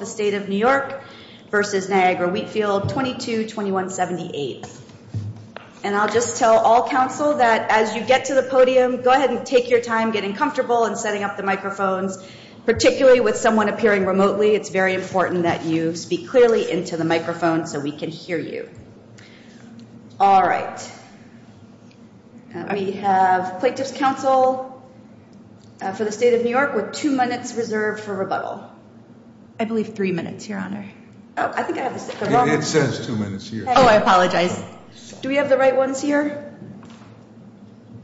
22-2178. And I'll just tell all council that as you get to the podium, go ahead and take your time getting comfortable and setting up the microphones, particularly with someone appearing remotely. It's very important that you speak clearly into the microphone so we can hear you. All right. We have Plaintiffs' Council for the State of New York with two minutes reserved for rebuttal. I believe two minutes are up. I think I have the wrong one. It says two minutes here. Oh, I apologize. Do we have the right ones here?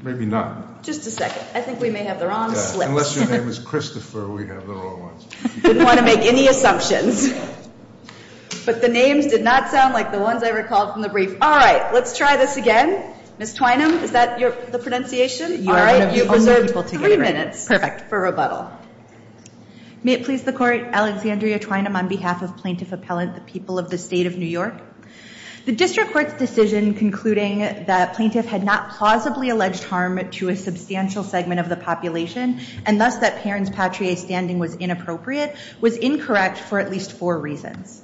Maybe not. Just a second. I think we may have the wrong slips. Unless your name is Christopher, we have the wrong ones. I didn't want to make any assumptions. But the names did not sound like the ones I recalled from the brief. All right. Let's try this again. Ms. Twynum, is that the pronunciation? You are one of the only people to get it right. All right. You've reserved three minutes. Perfect. For rebuttal. May it please the Court, Alexandria Twynum. On behalf of Plaintiff Appellant, the people of the State of New York, the District Court's decision concluding that plaintiff had not plausibly alleged harm to a substantial segment of the population, and thus that Perrin's patrie standing was inappropriate, was incorrect for at least four reasons.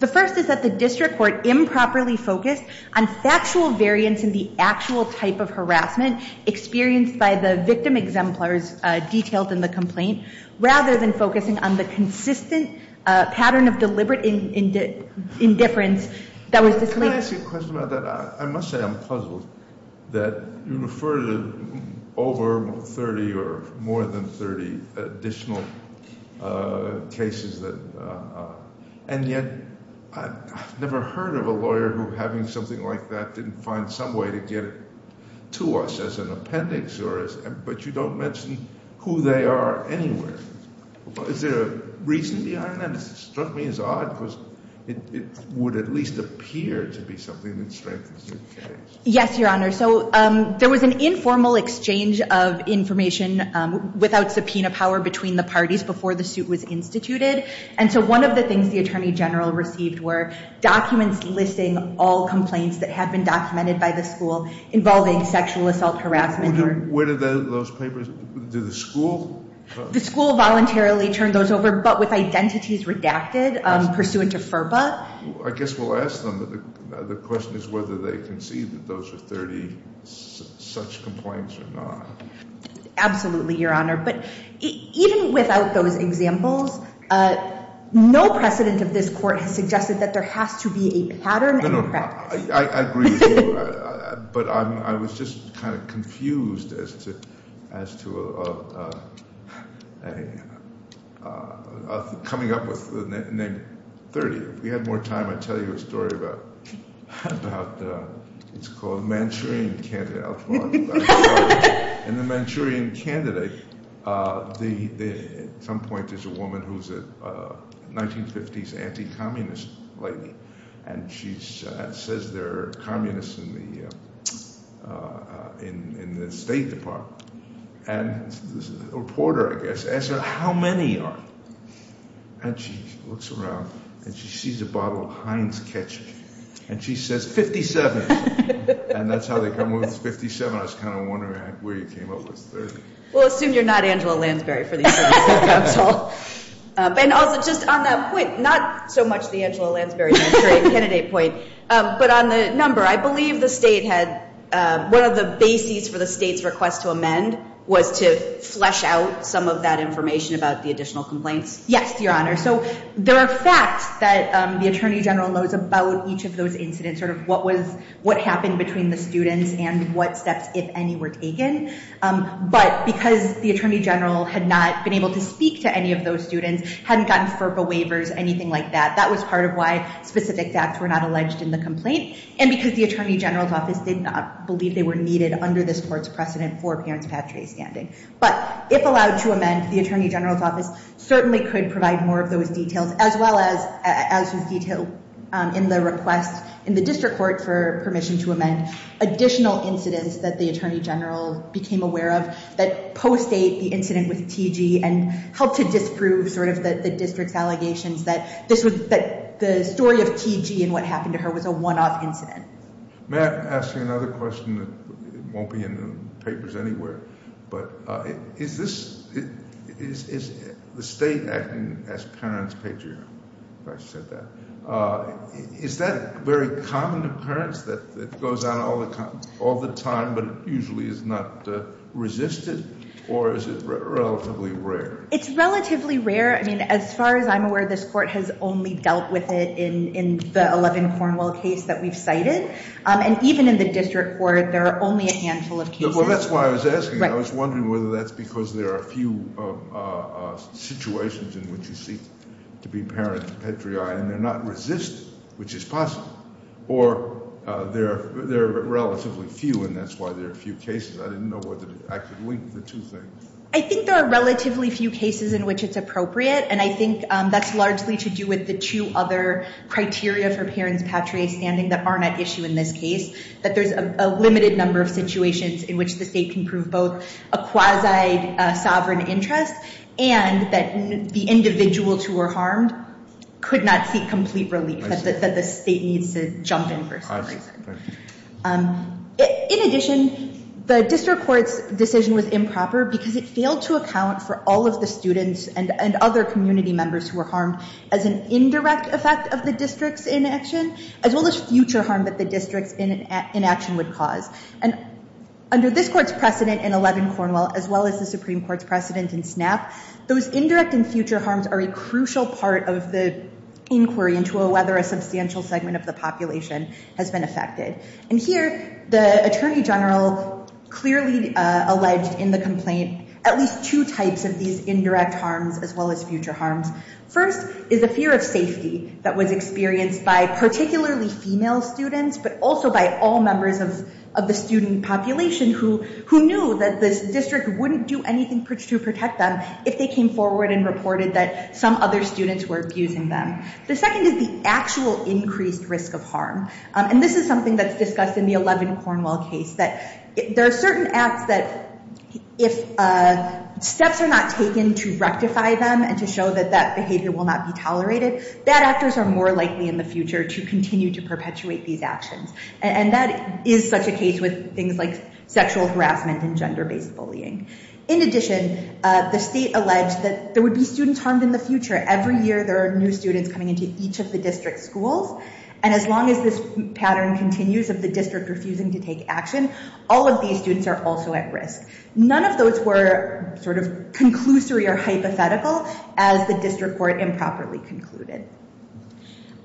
The first is that the District Court improperly focused on factual variance in the actual type of harassment experienced by the victim exemplars detailed in the complaint, rather than focusing on the consistent pattern of deliberate indifference that was displayed. May I ask you a question about that? I must say I'm puzzled that you refer to over 30 or more than 30 additional cases. And yet, I've never heard of a lawyer who, having something like that, didn't find some way to get it to us as an appendix, but you don't mention who they are anywhere. Is there a reason behind that? It struck me as odd, because it would at least appear to be something that strengthens the case. Yes, Your Honor. So there was an informal exchange of information without subpoena power between the parties before the suit was instituted. And so one of the things the Attorney General received were documents listing all complaints that had been documented by the school involving sexual assault harassment. Where did those papers, did the school? The school voluntarily turned those over, but with identities redacted pursuant to FERPA. I guess we'll ask them. The question is whether they concede that those are 30 such complaints or not. Absolutely, Your Honor. But even without those examples, no precedent of this Court has suggested that there has to be a pattern and a practice. I agree with you, but I was just kind of confused as to coming up with the name 30. If we had more time, I'd tell you a story about – it's called Manchurian Candidate. In the Manchurian Candidate, at some point there's a woman who's a 1950s anti-communist lady, and she says there are communists in the State Department. And this reporter, I guess, asks her, how many are there? And she looks around, and she sees a bottle of Heinz ketchup, and she says, 57. And that's how they come up with 57. I was kind of wondering where you came up with 30. We'll assume you're not Angela Lansbury for the Attorney General's Counsel. And also, just on that point, not so much the Angela Lansbury Manchurian Candidate point, but on the number, I believe the State had – one of the bases for the State's request to amend was to flesh out some of that information about the additional complaints. Yes, Your Honor. So there are facts that the Attorney General knows about each of those incidents, sort of what happened between the students and what steps, if any, were taken. But because the Attorney General had not been able to speak to any of those students, hadn't gotten FERPA waivers, anything like that, that was part of why specific facts were not alleged in the complaint. And because the Attorney General's Office did not believe they were needed under this Court's precedent for a parents' patria standing. But if allowed to amend, the Attorney General's Office certainly could provide more of those details, as well as detail in the request in the district court for permission to amend additional incidents that the Attorney General became aware of that post-date the incident with T.G. and helped to disprove sort of the district's allegations that the story of T.G. and what happened to her was a one-off incident. May I ask you another question? It won't be in the papers anywhere, but is this – is the State acting as parents' patria, if I said that? Is that a very common occurrence that goes on all the time, but usually is not resisted, or is it relatively rare? It's relatively rare. I mean, as far as I'm aware, this Court has only dealt with it in the 11 Cornwell case that we've cited. And even in the district court, there are only a handful of cases. Well, that's why I was asking. I was wondering whether that's because there are few situations in which you seek to be parents' patria, and they're not resisted, which is possible. Or there are relatively few, and that's why there are few cases. I didn't know whether I could link the two things. I think there are relatively few cases in which it's appropriate, and I think that's largely to do with the two other criteria for parents' patria standing that aren't at issue in this case, that there's a limited number of situations in which the State can prove both a quasi-sovereign interest and that the individuals who were harmed could not seek complete relief, that the State needs to jump in for something like that. In addition, the district court's decision was improper because it failed to account for all of the students and other community members who were harmed as an indirect effect of the district's inaction, as well as future harm that the district's inaction would cause. And under this court's precedent in 11 Cornwall, as well as the Supreme Court's precedent in SNAP, those indirect and future harms are a crucial part of the inquiry into whether a substantial segment of the population has been affected. And here, the Attorney General clearly alleged in the complaint at least two types of these indirect harms as well as future harms. First is a fear of safety that was experienced by particularly female students, but also by all members of the student population who knew that the district wouldn't do anything to protect them if they came forward and reported that some other students were abusing them. The second is the actual increased risk of harm. And this is something that's discussed in the 11 Cornwall case, that there are certain acts that if steps are not taken to rectify them and to show that that behavior will not be tolerated, bad actors are more likely in the future to continue to perpetuate these actions. And that is such a case with things like sexual harassment and gender-based bullying. In addition, the state alleged that there would be students harmed in the future. Every year, there are new students coming into each of the district schools. And as long as this pattern continues of the district refusing to take action, all of these students are also at risk. None of those were sort of conclusory or hypothetical as the district court improperly concluded.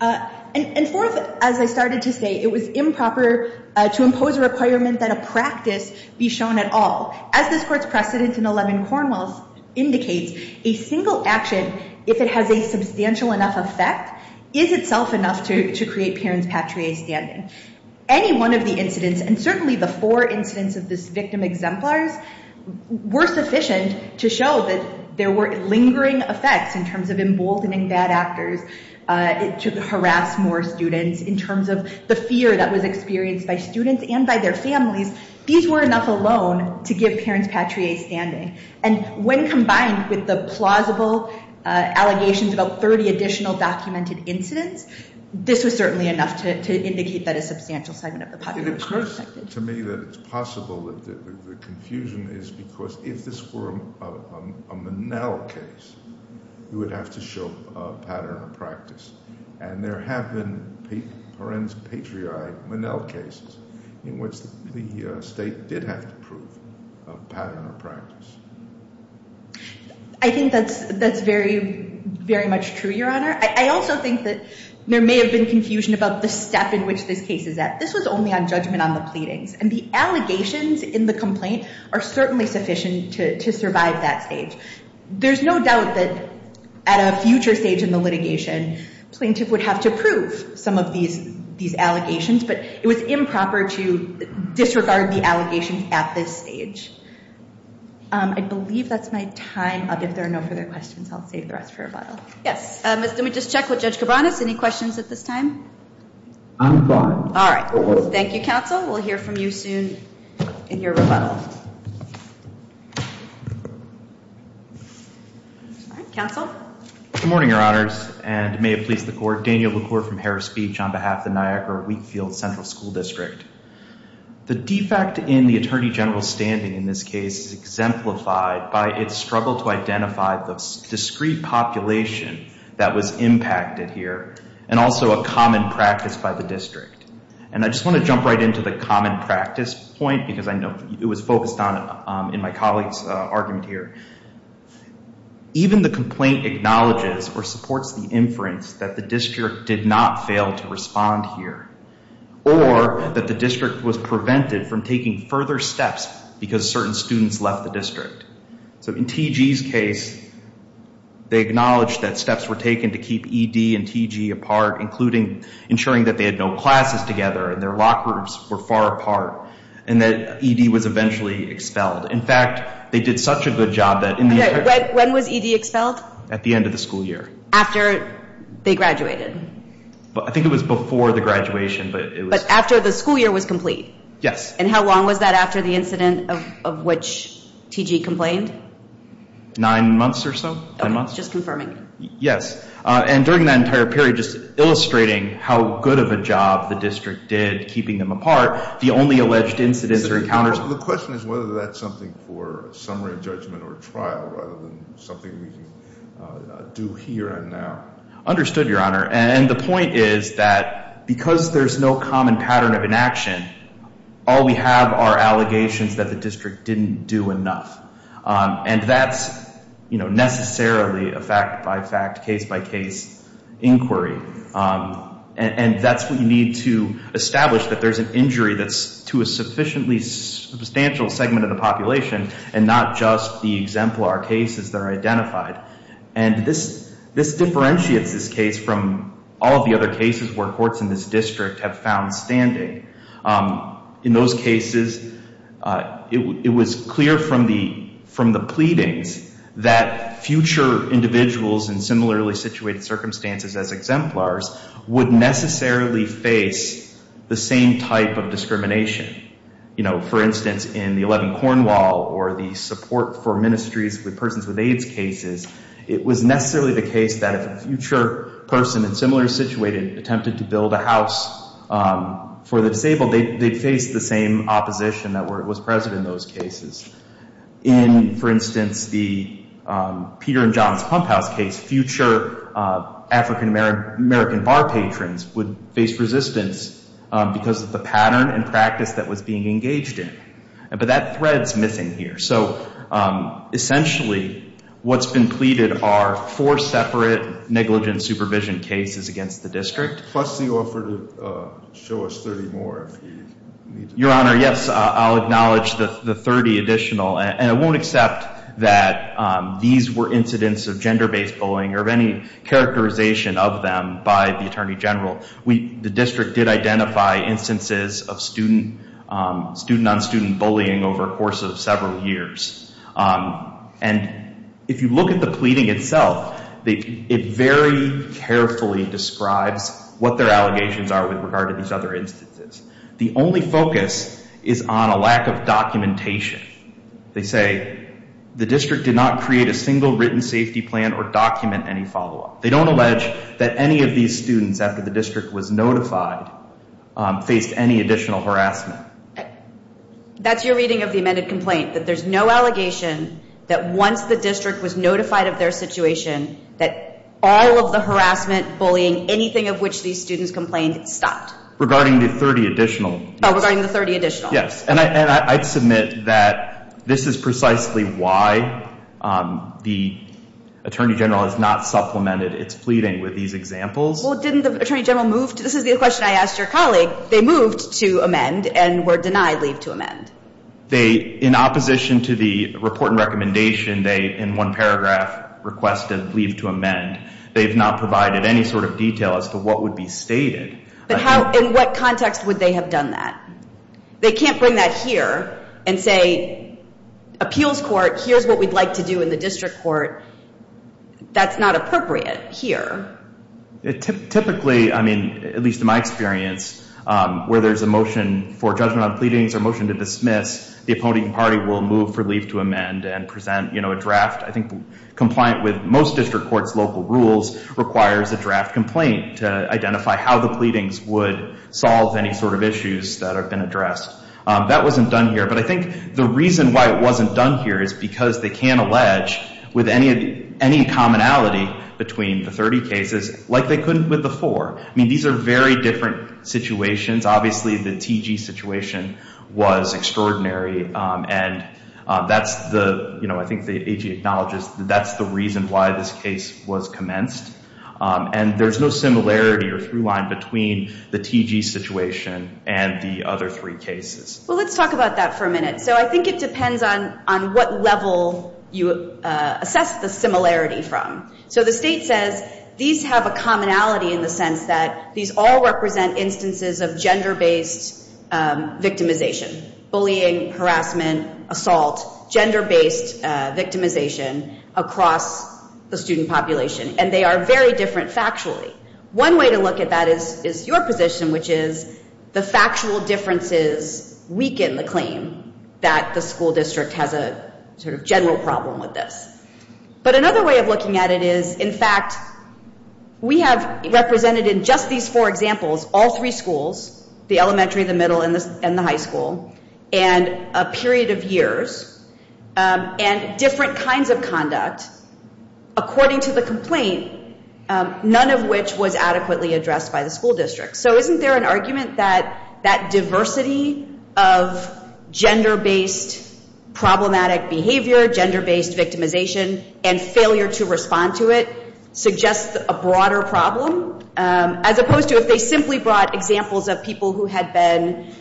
And fourth, as I started to say, it was improper to impose a requirement that a practice be shown at all. As this court's precedence in 11 Cornwall indicates, a single action, if it has a substantial enough effect, is itself enough to create parents patriae standing. Any one of the incidents, and certainly the four incidents of this victim exemplars, were sufficient to show that there were lingering effects in terms of emboldening bad actors to harass more students. In terms of the fear that was experienced by students and by their families, these were enough alone to give parents patriae standing. And when combined with the plausible allegations about 30 additional documented incidents, this was certainly enough to indicate that a substantial segment of the population was affected. It occurs to me that it's possible that the confusion is because if this were a Menel case, you would have to show a pattern of practice. And there have been parents patriae Menel cases in which the state did have to prove a pattern of practice. I think that's very, very much true, Your Honor. I also think that there may have been confusion about the step in which this case is at. This was only on judgment on the pleadings. And the allegations in the complaint are certainly sufficient to survive that stage. There's no doubt that at a future stage in the litigation, plaintiff would have to prove some of these allegations. But it was improper to disregard the allegations at this stage. I believe that's my time. If there are no further questions, I'll save the rest for rebuttal. Yes. Let me just check with Judge Cabranes. Any questions at this time? I'm fine. All right. Thank you, counsel. We'll hear from you soon in your rebuttal. All right. Counsel? Good morning, Your Honors, and may it please the Court. Daniel LaCour from Harris Beach on behalf of the Niagara-Wheatfield Central School District. The defect in the Attorney General's standing in this case is exemplified by its struggle to identify the discrete population that was impacted here, and also a common practice by the district. And I just want to jump right into the common practice point because I know it was focused on in my colleague's argument here. Even the complaint acknowledges or supports the inference that the district did not fail to respond here, or that the district was prevented from taking further steps because certain students left the district. So in T.G.'s case, they acknowledged that steps were taken to keep E.D. and T.G. apart, including ensuring that they had no classes together and their lock groups were far apart, and that E.D. was eventually expelled. In fact, they did such a good job that in the entire – Okay. When was E.D. expelled? At the end of the school year. After they graduated? I think it was before the graduation, but it was – But after the school year was complete? Yes. And how long was that after the incident of which T.G. complained? Nine months or so. Okay. Just confirming. Yes. And during that entire period, just illustrating how good of a job the district did keeping them apart, the only alleged incidents or encounters – The question is whether that's something for summary judgment or trial rather than something we can do here and now. Understood, Your Honor. And the point is that because there's no common pattern of inaction, all we have are allegations that the district didn't do enough. And that's necessarily a fact-by-fact, case-by-case inquiry. And that's what you need to establish, that there's an injury that's to a sufficiently substantial segment of the population and not just the exemplar cases that are identified. And this differentiates this case from all of the other cases where courts in this district have found standing. In those cases, it was clear from the pleadings that future individuals in similarly situated circumstances as exemplars would necessarily face the same type of discrimination. You know, for instance, in the 11 Cornwall or the support for ministries with persons with AIDS cases, it was necessarily the case that if a future person in similar situated attempted to build a house for the disabled, they'd face the same opposition that was present in those cases. In, for instance, the Peter and John's Pump House case, future African-American bar patrons would face resistance because of the pattern and practice that was being engaged in. But that thread's missing here. So essentially, what's been pleaded are four separate negligent supervision cases against the district. Plus the offer to show us 30 more if you need to. Your Honor, yes, I'll acknowledge the 30 additional. And I won't accept that these were incidents of gender-based bullying or of any characterization of them by the Attorney General. The district did identify instances of student-on-student bullying over a course of several years. And if you look at the pleading itself, it very carefully describes what their allegations are with regard to these other instances. The only focus is on a lack of documentation. They say the district did not create a single written safety plan or document any follow-up. They don't allege that any of these students, after the district was notified, faced any additional harassment. That's your reading of the amended complaint, that there's no allegation that once the district was notified of their situation, that all of the harassment, bullying, anything of which these students complained, stopped. Regarding the 30 additional. Regarding the 30 additional. Yes, and I'd submit that this is precisely why the Attorney General has not supplemented its pleading with these examples. Well, didn't the Attorney General move? This is the question I asked your colleague. They moved to amend and were denied leave to amend. They, in opposition to the report and recommendation, they, in one paragraph, requested leave to amend. They have not provided any sort of detail as to what would be stated. But how, in what context would they have done that? They can't bring that here and say, appeals court, here's what we'd like to do in the district court. That's not appropriate here. Typically, I mean, at least in my experience, where there's a motion for judgment on pleadings or a motion to dismiss, the opponent party will move for leave to amend and present, you know, a draft. I think compliant with most district courts' local rules requires a draft complaint to identify how the pleadings would solve any sort of issues that have been addressed. That wasn't done here. But I think the reason why it wasn't done here is because they can't allege with any commonality between the 30 cases like they couldn't with the four. I mean, these are very different situations. Obviously, the T.G. situation was extraordinary. And that's the, you know, I think the A.G. acknowledges that that's the reason why this case was commenced. And there's no similarity or through-line between the T.G. situation and the other three cases. Well, let's talk about that for a minute. So I think it depends on what level you assess the similarity from. So the state says these have a commonality in the sense that these all represent instances of gender-based victimization, bullying, harassment, assault, gender-based victimization across the student population. And they are very different factually. One way to look at that is your position, which is the factual differences weaken the claim that the school district has a sort of general problem with this. But another way of looking at it is, in fact, we have represented in just these four examples all three schools, the elementary, the middle, and the high school, and a period of years, and different kinds of conduct, according to the complaint, none of which was adequately addressed by the school district. So isn't there an argument that that diversity of gender-based problematic behavior, gender-based victimization, and failure to respond to it suggests a broader problem, as opposed to if they simply brought examples of people who had been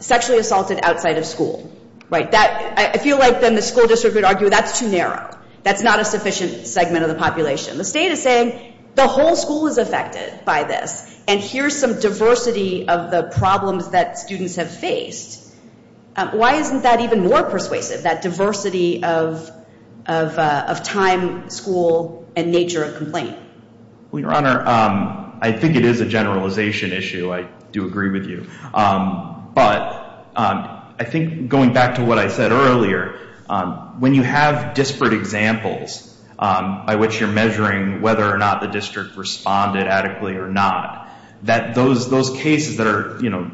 sexually assaulted outside of school? I feel like then the school district would argue that's too narrow. That's not a sufficient segment of the population. The state is saying the whole school is affected by this, and here's some diversity of the problems that students have faced. Why isn't that even more persuasive, that diversity of time, school, and nature of complaint? Your Honor, I think it is a generalization issue. I do agree with you. But I think going back to what I said earlier, when you have disparate examples by which you're measuring whether or not the district responded adequately or not, that those cases that are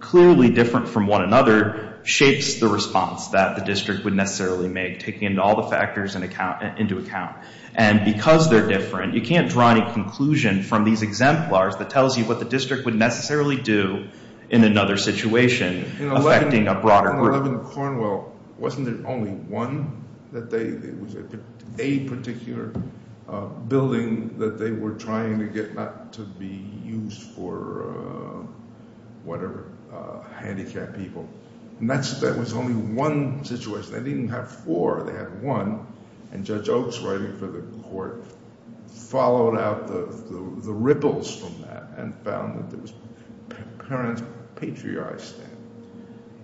clearly different from one another shapes the response that the district would necessarily make, taking all the factors into account. And because they're different, you can't draw any conclusion from these exemplars that tells you what the district would necessarily do in another situation affecting a broader group. In 11 Cornwell, wasn't there only one that they – it was a particular building that they were trying to get not to be used for whatever, handicapped people? And that was only one situation. They didn't even have four. They had one. And Judge Oaks, writing for the court, followed out the ripples from that and found that there was parent-patriarch standing.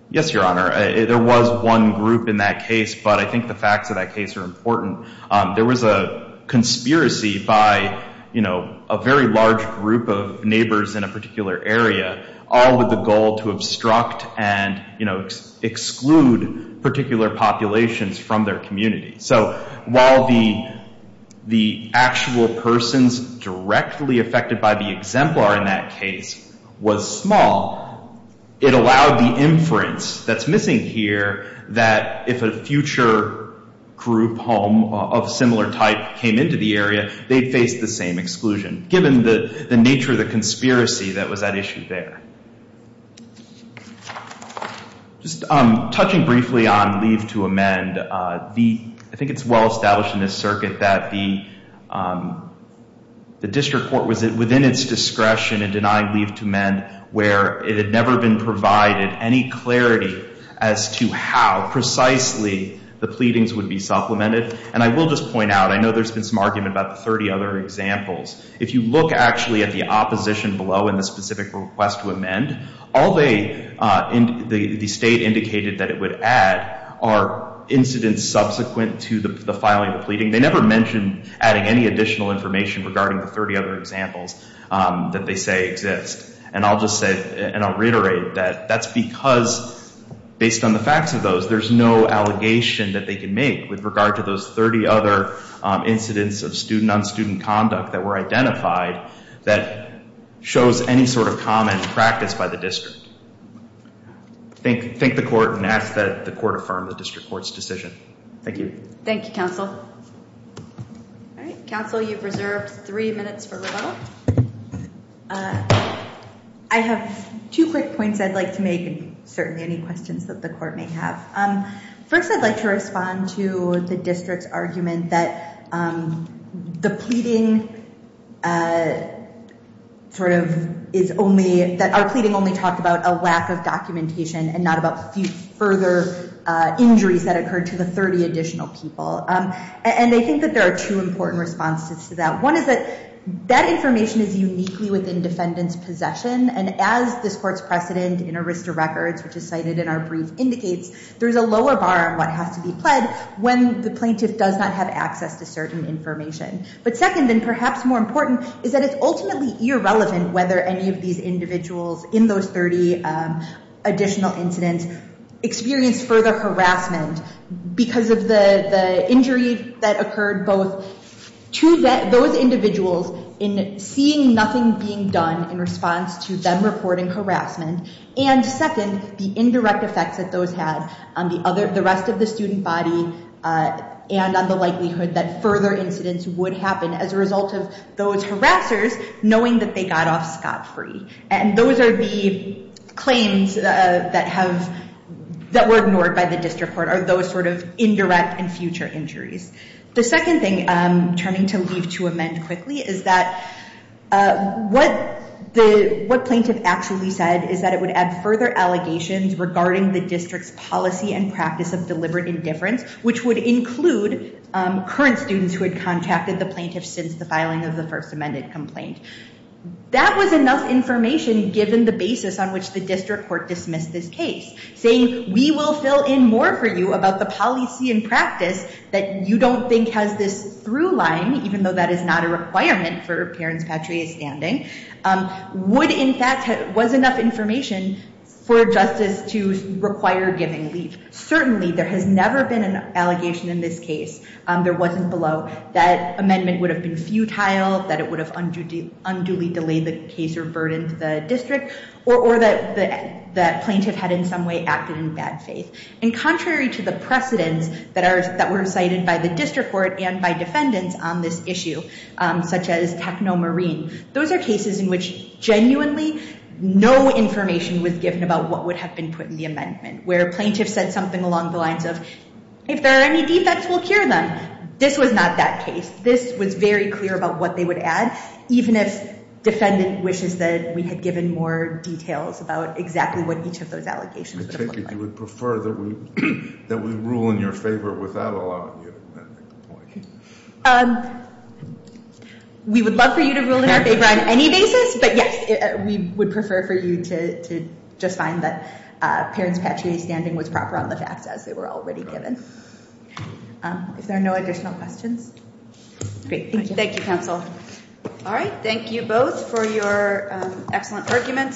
Yes, Your Honor. There was one group in that case, but I think the facts of that case are important. There was a conspiracy by, you know, a very large group of neighbors in a particular area, all with the goal to obstruct and, you know, exclude particular populations from their community. So while the actual persons directly affected by the exemplar in that case was small, it allowed the inference that's missing here that if a future group home of similar type came into the area, they'd face the same exclusion given the nature of the conspiracy that was at issue there. Just touching briefly on leave to amend. I think it's well established in this circuit that the district court was within its discretion in denying leave to amend where it had never been provided any clarity as to how precisely the pleadings would be supplemented. And I will just point out, I know there's been some argument about the 30 other examples. If you look actually at the opposition below in the specific request to amend, all the state indicated that it would add are incidents subsequent to the filing of the pleading. They never mentioned adding any additional information regarding the 30 other examples that they say exist. And I'll just say, and I'll reiterate that that's because, based on the facts of those, there's no allegation that they can make with regard to those 30 other incidents of student-on-student conduct that were identified that shows any sort of common practice by the district. Thank the court and ask that the court affirm the district court's decision. Thank you. Thank you, counsel. All right, counsel, you've reserved three minutes for rebuttal. I have two quick points I'd like to make and certainly any questions that the court may have. First, I'd like to respond to the district's argument that the pleading sort of is only, that our pleading only talked about a lack of documentation and not about further injuries that occurred to the 30 additional people. And I think that there are two important responses to that. One is that that information is uniquely within defendant's possession, and as this court's precedent in Arista Records, which is cited in our brief, indicates, there's a lower bar on what has to be pled when the plaintiff does not have access to certain information. But second, and perhaps more important, is that it's ultimately irrelevant whether any of these individuals in those 30 additional incidents experienced further harassment because of the injury that occurred both to those individuals in seeing nothing being done in response to them reporting harassment, and second, the indirect effects that those had on the rest of the student body and on the likelihood that further incidents would happen as a result of those harassers knowing that they got off scot-free. And those are the claims that have, that were ignored by the district court, are those sort of indirect and future injuries. The second thing, turning to leave to amend quickly, is that what the, what plaintiff actually said is that it would add further allegations regarding the district's policy and practice of deliberate indifference, which would include current students who had contacted the plaintiff since the filing of the first amended complaint. That was enough information given the basis on which the district court dismissed this case, saying we will fill in more for you about the policy and practice that you don't think has this through line, even though that is not a requirement for parents patria standing, would in fact, was enough information for justice to require giving leave. Certainly there has never been an allegation in this case, there wasn't below, that amendment would have been futile, that it would have unduly delayed the case or burdened the district, or that plaintiff had in some way acted in bad faith. And contrary to the precedence that were cited by the district court and by defendants on this issue, such as Techno Marine, those are cases in which genuinely, no information was given about what would have been put in the amendment, where plaintiff said something along the lines of, if there are any defects, we'll cure them. This was not that case. This was very clear about what they would add, even if defendant wishes that we had given more details about exactly what each of those allegations would have looked like. I take it you would prefer that we rule in your favor without allowing you to amend the complaint. We would love for you to rule in our favor on any basis, but yes, we would prefer for you to just find that parents patria standing was proper on the facts as they were already given. If there are no additional questions. Thank you, counsel. All right. Thank you both for your excellent arguments.